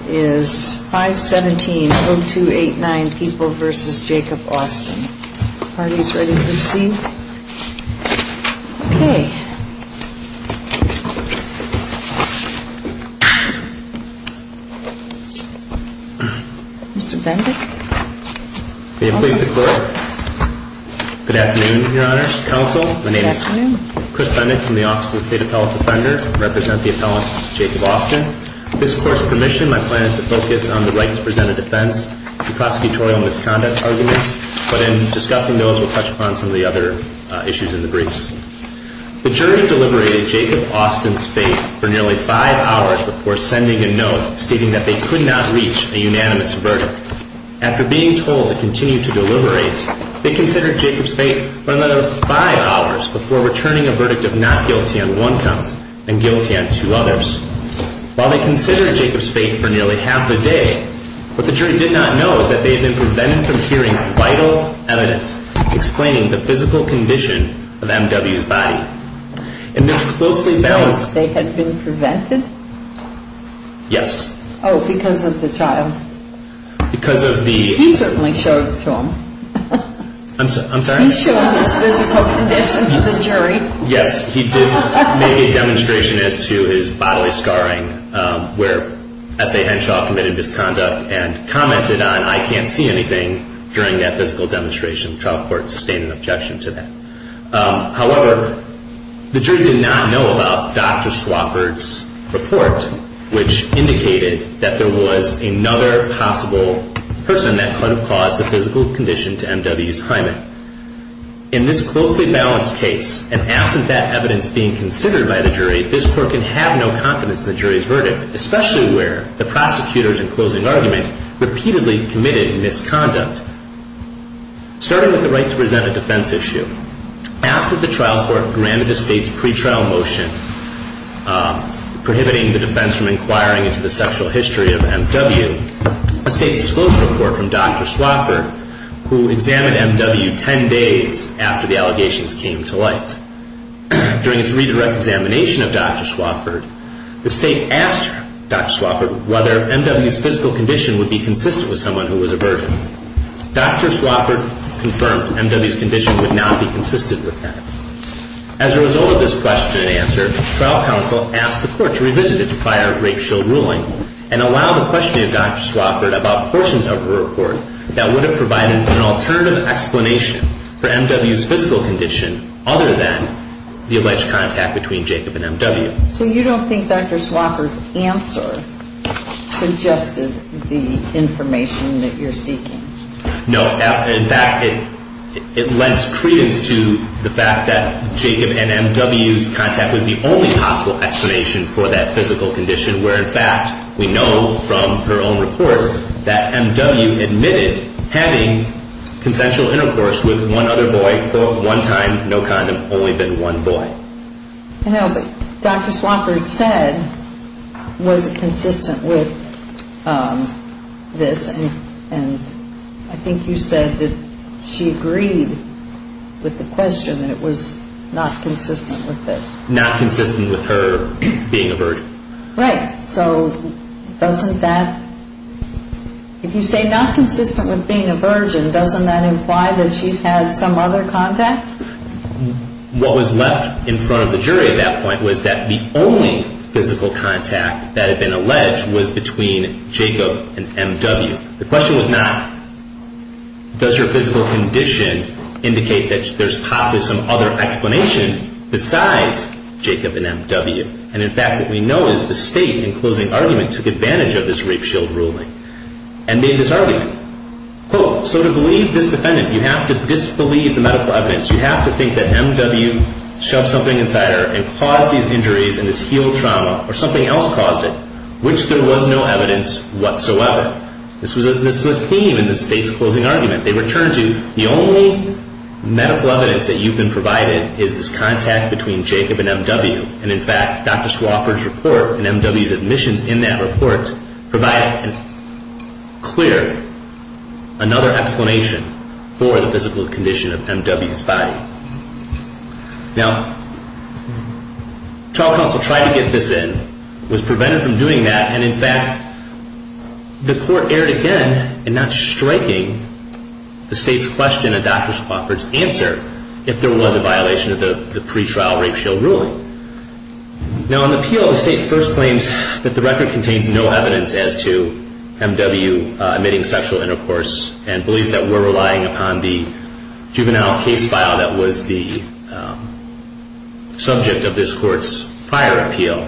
is 517-0289 People v. Jacob Austin, parties ready to proceed? Okay. Mr. Bendick? May it please the Court? Good afternoon, Your Honors, Counsel. My name is Chris Bendick from the Office of the State Appellate Defender. I represent the Office of the State Appellate Defender. My plan is to focus on the right to present a defense, the prosecutorial misconduct arguments, but in discussing those, we'll touch upon some of the other issues in the briefs. The jury deliberated Jacob Austin's fate for nearly five hours before sending a note stating that they could not reach a unanimous verdict. After being told to continue to deliberate, they considered Jacob's fate for another five hours before returning a verdict of not guilty on one count and guilty on two others. While they considered Jacob's fate for nearly half a day, what the jury did not know is that they had been prevented from hearing vital evidence explaining the physical condition of M.W.'s body. In this closely balanced case, they had been prevented? Yes. Oh, because of the child. He certainly showed it to them. I'm sorry? He showed his physical condition to the jury. Yes, he did make a demonstration as to his bodily scarring where S.A. Henshaw committed misconduct and commented on I can't see anything during that physical demonstration. The trial court sustained an objection to that. However, the jury did not know about Dr. Swafford's report, which indicated that there was another possible person that could have caused the physical condition to M.W.'s hymen. In this closely balanced case, and absent that evidence being considered by the jury, this court can have no confidence in the jury's verdict, especially where the prosecutors in closing argument repeatedly committed misconduct. Starting with the right to present a defense issue, after the trial court granted a state's pretrial motion prohibiting the defense from inquiring into the sexual history of M.W., a state disclosed a report from Dr. Swafford who examined M.W. ten days after the allegations came to light that M.W. was a virgin. Dr. Swafford confirmed M.W.'s condition would not be consistent with that. As a result of this question and answer, trial counsel asked the court to revisit its prior rape shield ruling and allow the questioning of Dr. Swafford about portions of the report that would have provided an alternative explanation for M.W.'s physical condition other than the alleged contact between Jacob and M.W. So you don't think Dr. Swafford's answer suggested the information that you're seeking? No. In fact, it lends credence to the fact that Jacob and M.W.'s contact was the only possible explanation for that physical condition where in fact we know from her own report that M.W. admitted having consensual intercourse with one other boy for one time, no condom, only been one boy. No, but Dr. Swafford said, was it consistent with this and I think you said that she agreed with the question that it was not consistent with this. Not consistent with her being a virgin. Right. So doesn't that, if you say not consistent with being a virgin, doesn't that imply that she's had some other contact? What was left in front of the jury at that point was that the only physical contact that had been alleged was between Jacob and M.W. The question was not does your physical condition indicate that there's possibly some other explanation besides Jacob and M.W. And in fact what we know is the state in closing argument took advantage of this rape shield ruling and made this argument. Quote, so to believe this defendant you have to disbelieve the medical evidence. You have to think that M.W. shoved something inside her and caused these injuries and this heel trauma or something else caused it, which there was no evidence whatsoever. This was a theme in the state's closing argument. They returned to the only medical evidence that you've been provided is this contact between Jacob and M.W. And in fact Dr. Swofford's report and M.W.'s admissions in that report provided clear another explanation for the physical condition of M.W.'s body. Now trial counsel tried to get this in, was prevented from doing that, and in fact the court erred again in not striking the state's question in Dr. Swofford's answer if there was a violation of the pretrial rape shield ruling. Now in the appeal the state first claims that the record contains no evidence as to M.W. emitting sexual intercourse and believes that we're relying upon the juvenile case file that was the subject of this court's prior appeal.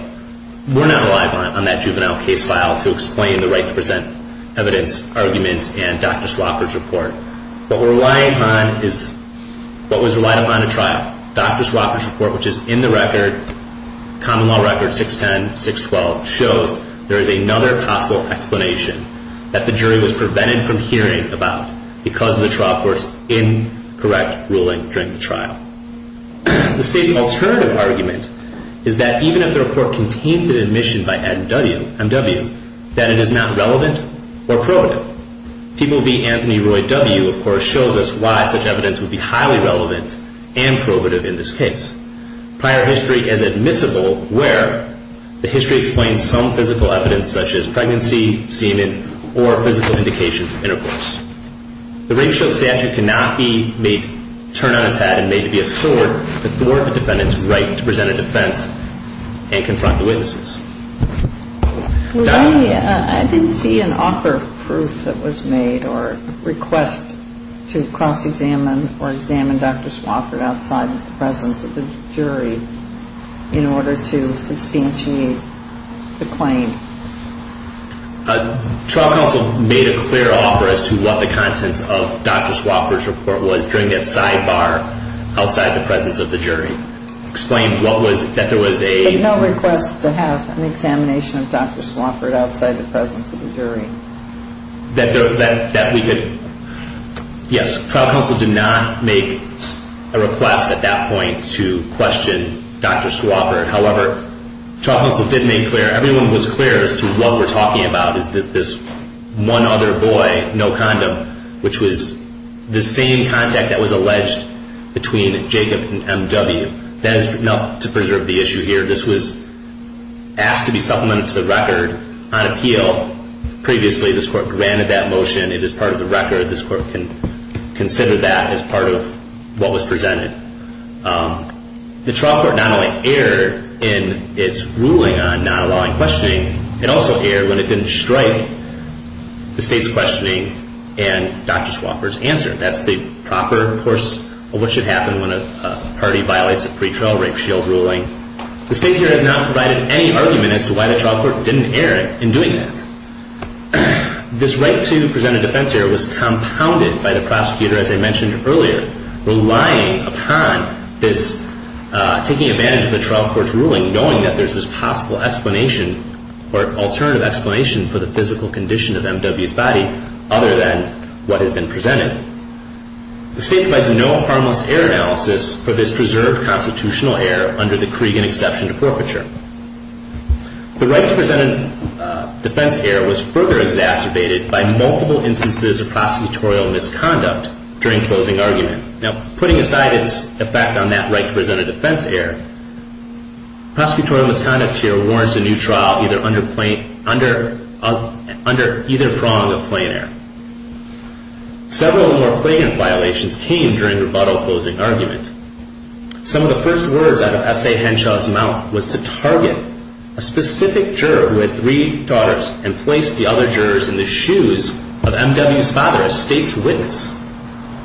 We're not relying on that juvenile case file to explain the right to present evidence argument and Dr. Swofford's report. What we're relying on is what was relied upon in trial. Dr. Swofford's report, which is in the record, common law record 610, 612, shows there is another possible explanation that the jury was prevented from hearing about because of the trial court's incorrect ruling during the trial. The state's alternative argument is that even if the report contains an admission by M.W. that it is not relevant or provable. People v. Anthony Roy W., of course, shows us why such evidence would be highly relevant and provative in this case. Prior history is admissible where the history explains some physical evidence such as pregnancy, semen, or physical indications of intercourse. The rape shield statute cannot be made to turn on its head and made to be a sword to thwart the defendant's right to present a defense and confront the witnesses. I didn't see an offer of proof that was made or request to cross-examine or examine Dr. Swofford outside the presence of the jury in order to substantiate the claim. Trial counsel made a clear offer as to what the contents of Dr. Swofford's report was during that sidebar outside the presence of the jury. But no request to have an examination of Dr. Swofford outside the presence of the jury. Yes, trial counsel did not make a request at that point to question Dr. Swofford. However, trial counsel did make clear, everyone was clear as to what we're talking about is this one other boy, no condom, which was the same contact that was alleged between Jacob and M.W. That is enough to preserve the issue here. This was asked to be supplemented to the record on appeal. Previously, this court granted that motion. It is part of the record. This court can consider that as part of what was presented. The trial court not only erred in its ruling on non-allowing questioning, it also erred when it didn't strike the state's questioning and Dr. Swofford's answer. That's the proper course of what should happen when a party violates a pretrial rape shield ruling. The state here has not provided any argument as to why the trial court didn't err in doing that. This right to present a defense error was compounded by the prosecutor, as I mentioned earlier, relying upon this taking advantage of the trial court's ruling, knowing that there's this possible explanation or alternative explanation for the physical condition of M.W.'s body, other than what had been presented. The state provides no harmless error analysis for this preserved constitutional error under the Cregan exception to forfeiture. The right to present a defense error was further exacerbated by multiple instances of prosecutorial misconduct during closing argument. Now, putting aside its effect on that right to present a defense error, prosecutorial misconduct here warrants a new trial under either prong of plain error. Several more flagrant violations came during rebuttal closing argument. Some of the first words out of S.A. Henshaw's mouth was to target a specific juror who had three daughters and place the other jurors in the shoes of M.W.'s father as state's witness.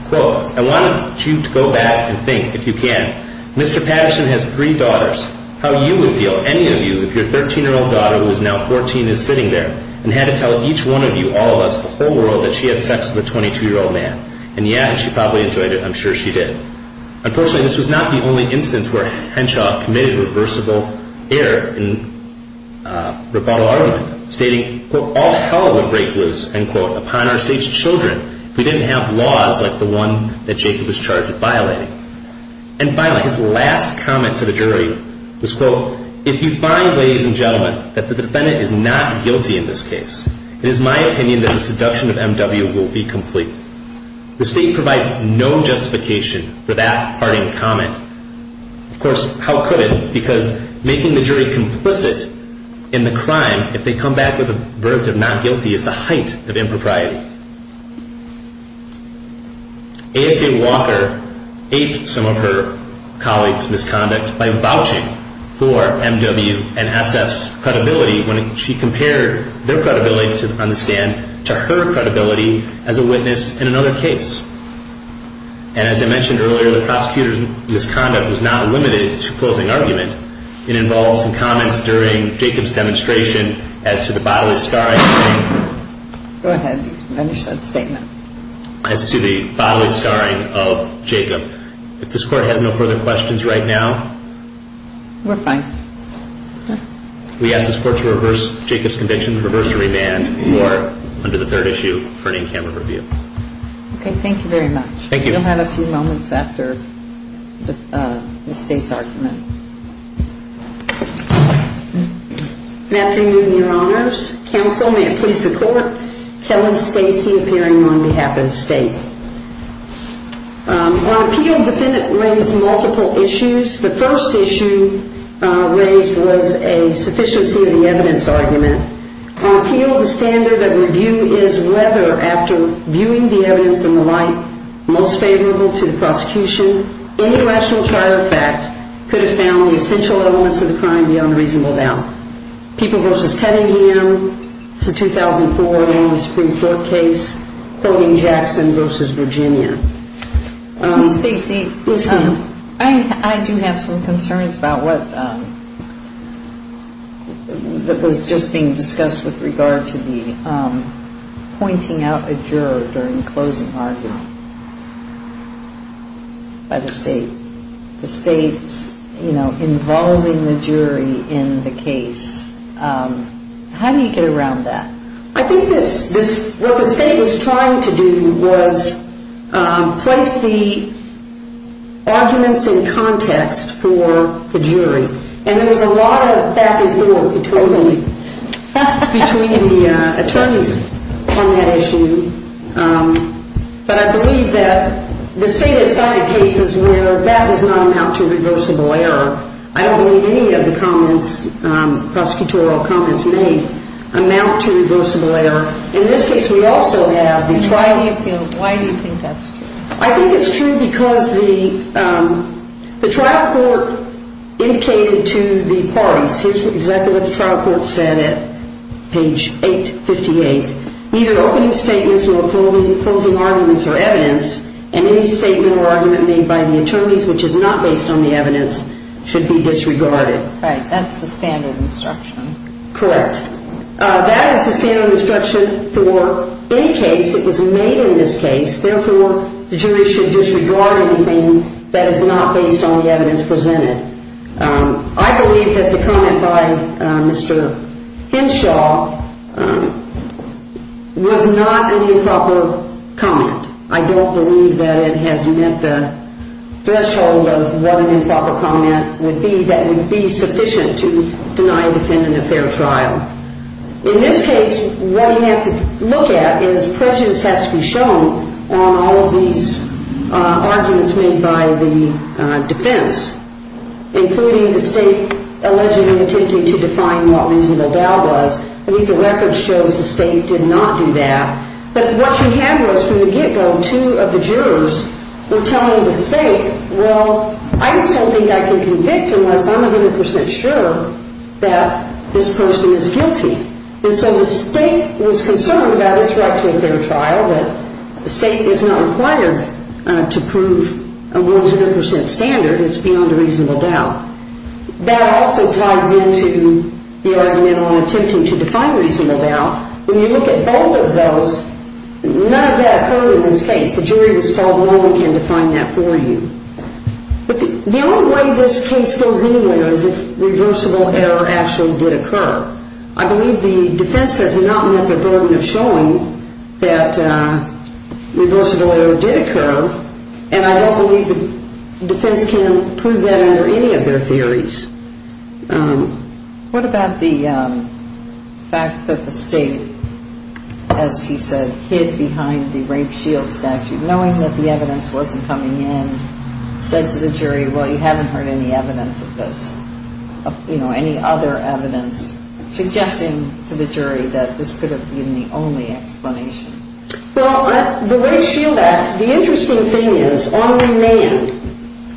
Quote, I want you to go back and think, if you can, Mr. Patterson has three daughters. How you would feel, any of you, if your 13-year-old daughter, who is now 14, is sitting there and had to tell each one of you, all of us, the whole world that she had sex with a 22-year-old man. And yeah, she probably enjoyed it. I'm sure she did. Unfortunately, this was not the only instance where Henshaw committed reversible error in rebuttal argument, stating, quote, all hell would break loose, end quote, upon our state's children if we didn't have laws like the one that Jacob was charged with violating. And finally, his last comment to the jury was, quote, if you find, ladies and gentlemen, that the defendant is not guilty in this case, it is my opinion that the seduction of M.W. will be complete. The state provides no justification for that parting comment. Of course, how could it? Because making the jury complicit in the crime, if they come back with a verdict of not guilty, is the height of impropriety. A.S.A. Walker aped some of her colleagues' misconduct by vouching for M.W. and S.F.'s credibility when she compared their credibility, to understand, to her credibility as a witness in another case. And as I mentioned earlier, the prosecutor's misconduct was not limited to closing argument. It involves some comments during Jacob's demonstration as to the bodily scarring of Jacob. If this Court has no further questions right now. We're fine. We ask this Court to reverse Jacob's conviction. Reverse the remand. You are under the third issue for an in-camera review. Okay. Thank you very much. Thank you. We'll have a few moments after the State's argument. Good afternoon, Your Honors. Counsel, may it please the Court. Kelly Stacy appearing on behalf of the State. On appeal, the defendant raised multiple issues. The first issue raised was a sufficiency of the evidence argument. On appeal, the standard of review is whether, after viewing the evidence in the light most favorable to the prosecution, any rational trial of fact could have found the essential elements of the crime beyond reasonable doubt. People v. Kettingham, it's a 2004 Supreme Court case, Hogan-Jackson v. Virginia. Stacy. Yes, ma'am. I do have some concerns about what was just being discussed with regard to the pointing out a juror during closing argument by the State. The State's involving the jury in the case. How do you get around that? I think what the State was trying to do was place the arguments in context for the jury. And there was a lot of back and forth between the attorneys on that issue. But I believe that the State has cited cases where that does not amount to reversible error. I don't believe any of the comments, prosecutorial comments made, amount to reversible error. In this case, we also have the trial. On appeal, why do you think that's true? I think it's true because the trial court indicated to the parties, here's exactly what the trial court said at page 858, neither opening statements nor closing arguments or evidence, and any statement or argument made by the attorneys which is not based on the evidence should be disregarded. Right. That's the standard instruction. Correct. That is the standard instruction for any case that was made in this case. Therefore, the jury should disregard anything that is not based on the evidence presented. I believe that the comment by Mr. Henshaw was not an improper comment. I don't believe that it has met the threshold of what an improper comment would be that would be sufficient to deny a defendant a fair trial. In this case, what you have to look at is prejudice has to be shown on all of these arguments made by the defense, including the State allegedly attempting to define what reasonable doubt was. I think the record shows the State did not do that. But what you have was from the get-go two of the jurors were telling the State, well, I just don't think I can convict unless I'm 100 percent sure that this person is guilty. And so the State was concerned about its right to a fair trial, but the State is not required to prove a 100 percent standard. It's beyond a reasonable doubt. That also ties into the argument on attempting to define reasonable doubt. When you look at both of those, none of that occurred in this case. The jury was told, well, we can define that for you. But the only way this case goes anywhere is if reversible error actually did occur. I believe the defense has not met the burden of showing that reversible error did occur, and I don't believe the defense can prove that under any of their theories. What about the fact that the State, as he said, hid behind the Rape Shield statute, knowing that the evidence wasn't coming in, said to the jury, well, you haven't heard any evidence of this, you know, any other evidence, suggesting to the jury that this could have been the only explanation? Well, the Rape Shield Act, the interesting thing is, on demand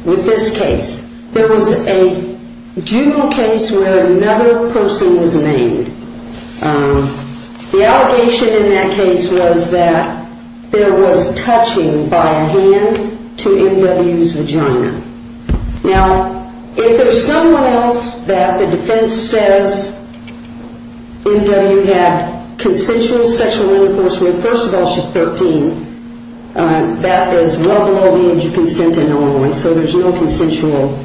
with this case, there was a juvenile case where another person was named. The allegation in that case was that there was touching by a hand to M.W.'s vagina. Now, if there's someone else that the defense says M.W. had consensual sexual intercourse with, first of all, she's 13, that is well below the age of consent in Illinois, so there's no consensual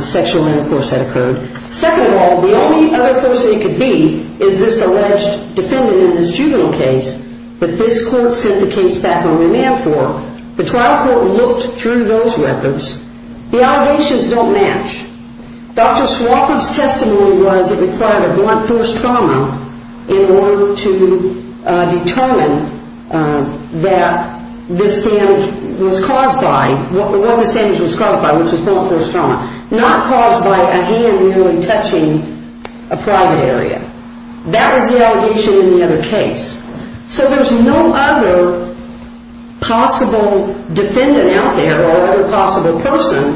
sexual intercourse that occurred. Second of all, the only other person it could be is this alleged defendant in this juvenile case that this court sent the case back on demand for. The trial court looked through those records. The allegations don't match. Dr. Swofford's testimony was it required a blunt force trauma in order to determine that this damage was caused by, what this damage was caused by, which was blunt force trauma, not caused by a hand really touching a private area. That was the allegation in the other case. So there's no other possible defendant out there or other possible person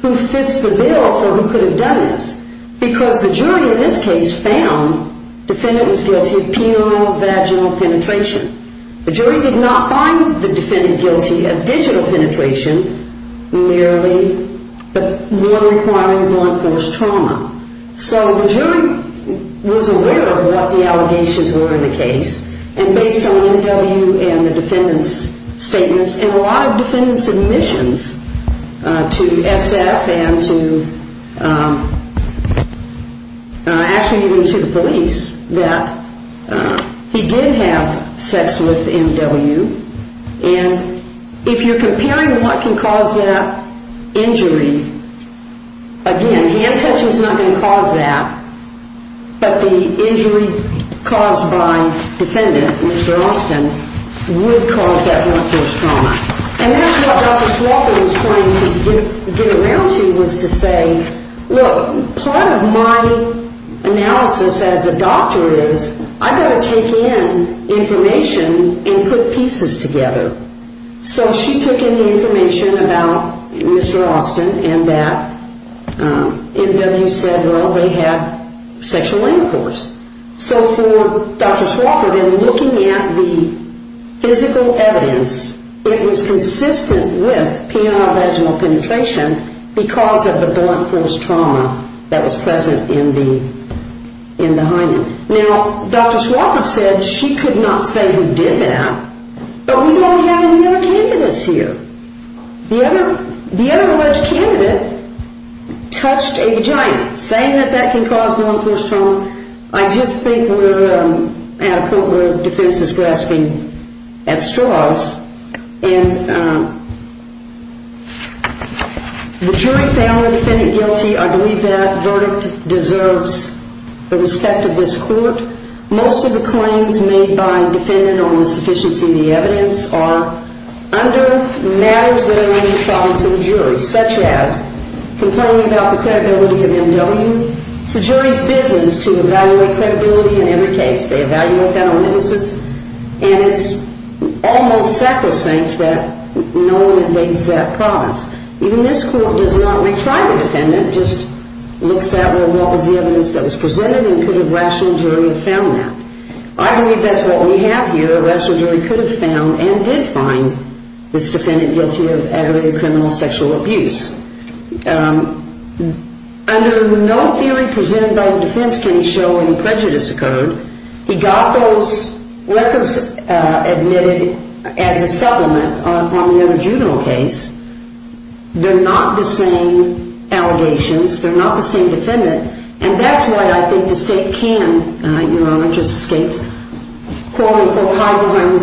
who fits the bill for who could have done this because the jury in this case found the defendant was guilty of penile vaginal penetration. The jury did not find the defendant guilty of digital penetration, merely requiring blunt force trauma. So the jury was aware of what the allegations were in the case, and based on M.W. and the defendant's statements, and a lot of defendant's admissions to S.F. and to actually even to the police, that he did have sex with M.W. And if you're comparing what can cause that injury, again, hand touching is not going to cause that, but the injury caused by defendant, Mr. Austin, would cause that blunt force trauma. And that's what Dr. Swafford was trying to get around to was to say, look, part of my analysis as a doctor is I've got to take in information and put pieces together. So she took in the information about Mr. Austin and that M.W. said, well, they had sexual intercourse. So for Dr. Swafford, in looking at the physical evidence, it was consistent with penile vaginal penetration because of the blunt force trauma that was present in the hymen. Now, Dr. Swafford said she could not say who did that, but we don't have any other candidates here. The other alleged candidate touched a vagina. Saying that that can cause blunt force trauma, I just think we're at a point where defense is grasping at straws. And the jury found the defendant guilty. I believe that verdict deserves the respect of this court. Most of the claims made by defendant on the sufficiency of the evidence are under matters that are in the province of the jury, such as complaining about the credibility of M.W. It's the jury's business to evaluate credibility in every case. They evaluate that on witnesses. And it's almost sacrosanct that no one invades that province. Even this court does not retry the defendant, just looks at, well, what was the evidence that was presented and could a rational jury have found that? I believe that's what we have here. A rational jury could have found and did find this defendant guilty of aggravated criminal sexual abuse. Under no theory presented by the defense can show any prejudice occurred. He got those records admitted as a supplement on the other juvenile case. They're not the same allegations. They're not the same defendant. And that's why I think the state can, Your Honor, Justice Gates, quote-unquote hide behind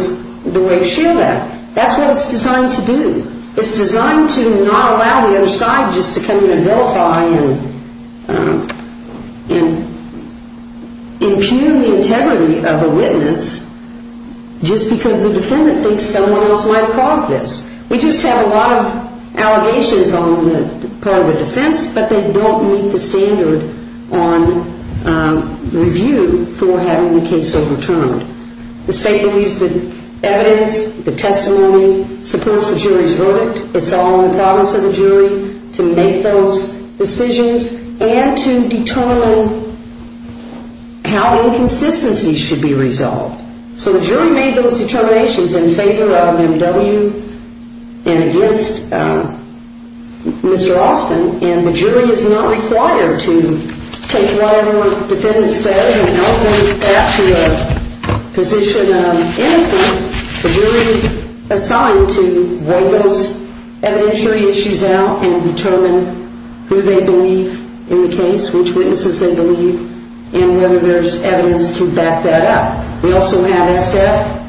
the way it's shielded. That's what it's designed to do. It's designed to not allow the other side just to come in and vilify and impugn the integrity of a witness just because the defendant thinks someone else might cause this. We just have a lot of allegations on the part of the defense, but they don't meet the standard on review for having the case overturned. The state believes the evidence, the testimony supports the jury's verdict. It's all in the promise of the jury to make those decisions and to determine how inconsistencies should be resolved. So the jury made those determinations in favor of M.W. and against Mr. Austin, and the jury is not required to take whatever the defendant says and elevate that to a position of innocence. The jury is assigned to roll those evidentiary issues out and determine who they believe in the case, which witnesses they believe, and whether there's evidence to back that up. We also have S.F.,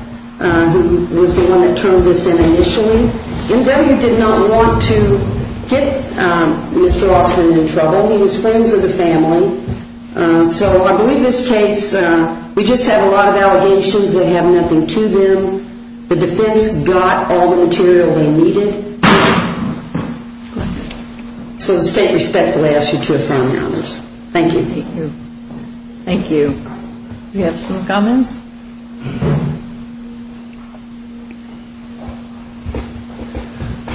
who was the one that turned this in initially. M.W. did not want to get Mr. Austin in trouble. He was friends with the family. So I believe this case, we just have a lot of allegations. They have nothing to them. The defense got all the material they needed. So the state respectfully asks you to affirm your honors. Thank you. Thank you. Thank you. Do you have some comments?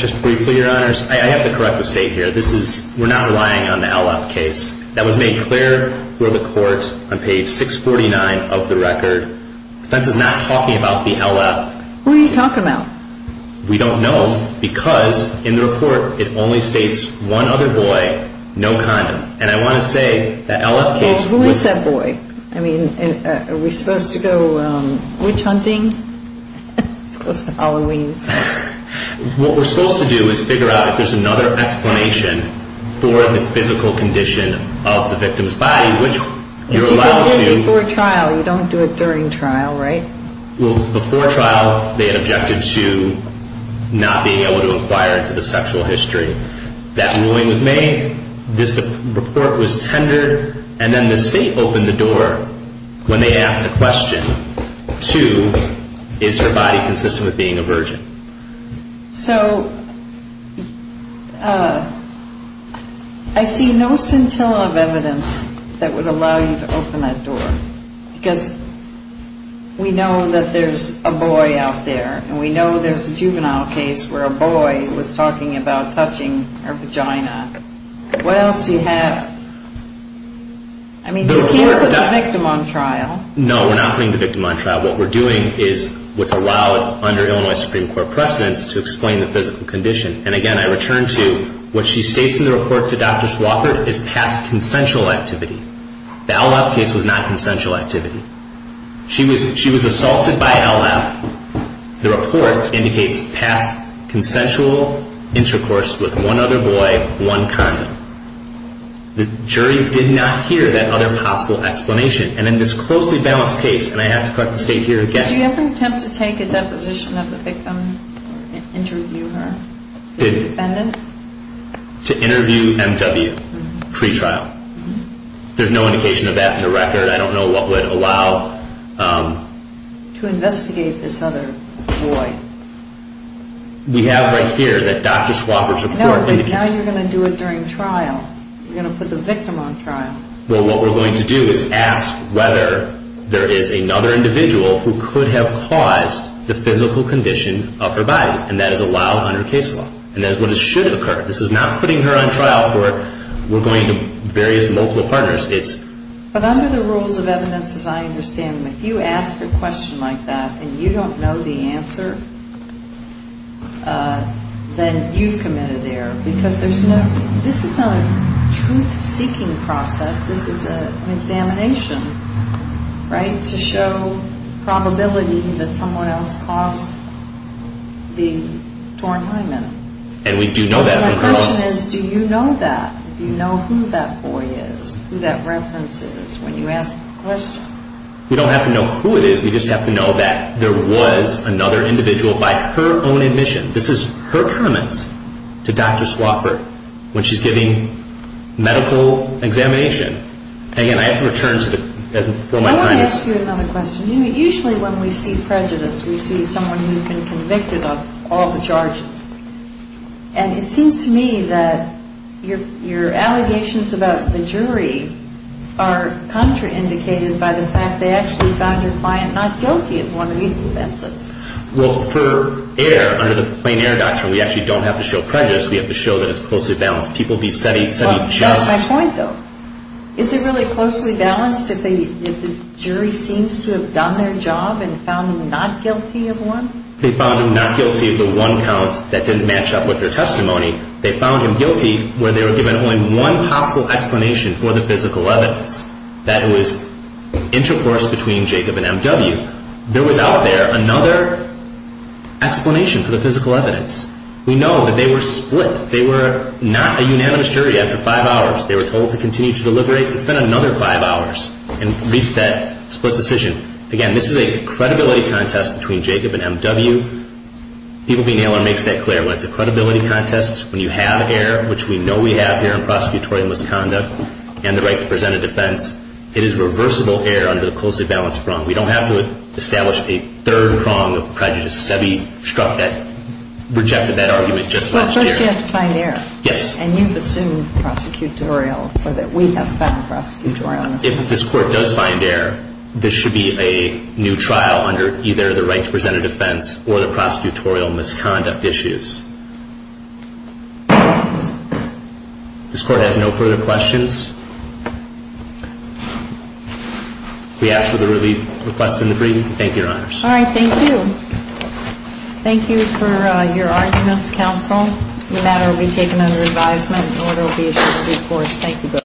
Just briefly, your honors, I have to correct the state here. We're not relying on the L.F. case. That was made clear before the court on page 649 of the record. The defense is not talking about the L.F. Who are you talking about? We don't know because in the report it only states one other boy, no condom. Who is that boy? Are we supposed to go witch hunting? It's close to Halloween. What we're supposed to do is figure out if there's another explanation for the physical condition of the victim's body, which you're allowed to. You don't do it before trial. You don't do it during trial, right? Before trial, they had objected to not being able to inquire into the sexual history. That ruling was made, this report was tendered, and then the state opened the door when they asked the question, two, is her body consistent with being a virgin? So I see no scintilla of evidence that would allow you to open that door because we know that there's a boy out there, and we know there's a juvenile case where a boy was talking about touching her vagina. What else do you have? I mean, you can't put the victim on trial. No, we're not putting the victim on trial. What we're doing is what's allowed under Illinois Supreme Court precedents to explain the physical condition. And again, I return to what she states in the report to Dr. Swafford is past consensual activity. The L.F. case was not consensual activity. She was assaulted by L.F. The report indicates past consensual intercourse with one other boy, one condom. The jury did not hear that other possible explanation. And in this closely balanced case, and I have to correct the state here again. Did you ever attempt to take a deposition of the victim or interview her? To interview M.W. pre-trial. There's no indication of that in the record. I don't know what would allow to investigate this other boy. We have right here that Dr. Swafford's report indicates. No, but now you're going to do it during trial. You're going to put the victim on trial. Well, what we're going to do is ask whether there is another individual who could have caused the physical condition of her body, and that is allowed under case law. And that's what should have occurred. This is not putting her on trial for we're going to various multiple partners. But under the rules of evidence, as I understand them, if you ask a question like that and you don't know the answer, then you've committed error. Because this is not a truth-seeking process. This is an examination, right, to show probability that someone else caused the torn hymen. And we do know that. My question is, do you know that? Do you know who that boy is, who that reference is, when you ask the question? We don't have to know who it is. We just have to know that there was another individual by her own admission. This is her comments to Dr. Swafford when she's giving medical examination. Again, I have to return to it as before my time is up. Let me ask you another question. Usually when we see prejudice, we see someone who's been convicted of all the charges. And it seems to me that your allegations about the jury are contraindicated by the fact they actually found your client not guilty of one of these offenses. Well, for error, under the plain error doctrine, we actually don't have to show prejudice. We have to show that it's closely balanced. People be setting just— That's my point, though. Is it really closely balanced if the jury seems to have done their job and found them not guilty of one? They found him not guilty of the one count that didn't match up with their testimony. They found him guilty where they were given only one possible explanation for the physical evidence, that it was intercourse between Jacob and M.W. There was out there another explanation for the physical evidence. We know that they were split. They were not a unanimous jury after five hours. They were told to continue to deliberate and spend another five hours and reach that split decision. Again, this is a credibility contest between Jacob and M.W. People Be Nailer makes that clear. When it's a credibility contest, when you have error, which we know we have here in prosecutorial misconduct, and the right to present a defense, it is reversible error under the closely balanced prong. We don't have to establish a third prong of prejudice. Sebi rejected that argument just last year. But first you have to find error. Yes. And you've assumed prosecutorial, or that we have found prosecutorial. If this court does find error, this should be a new trial under either the right to present a defense or the prosecutorial misconduct issues. This court has no further questions. We ask for the relief request and debrief. Thank you, Your Honors. All right. Thank you. Thank you for your arguments, counsel. The matter will be taken under advisement, and the order will be issued through force. Thank you both.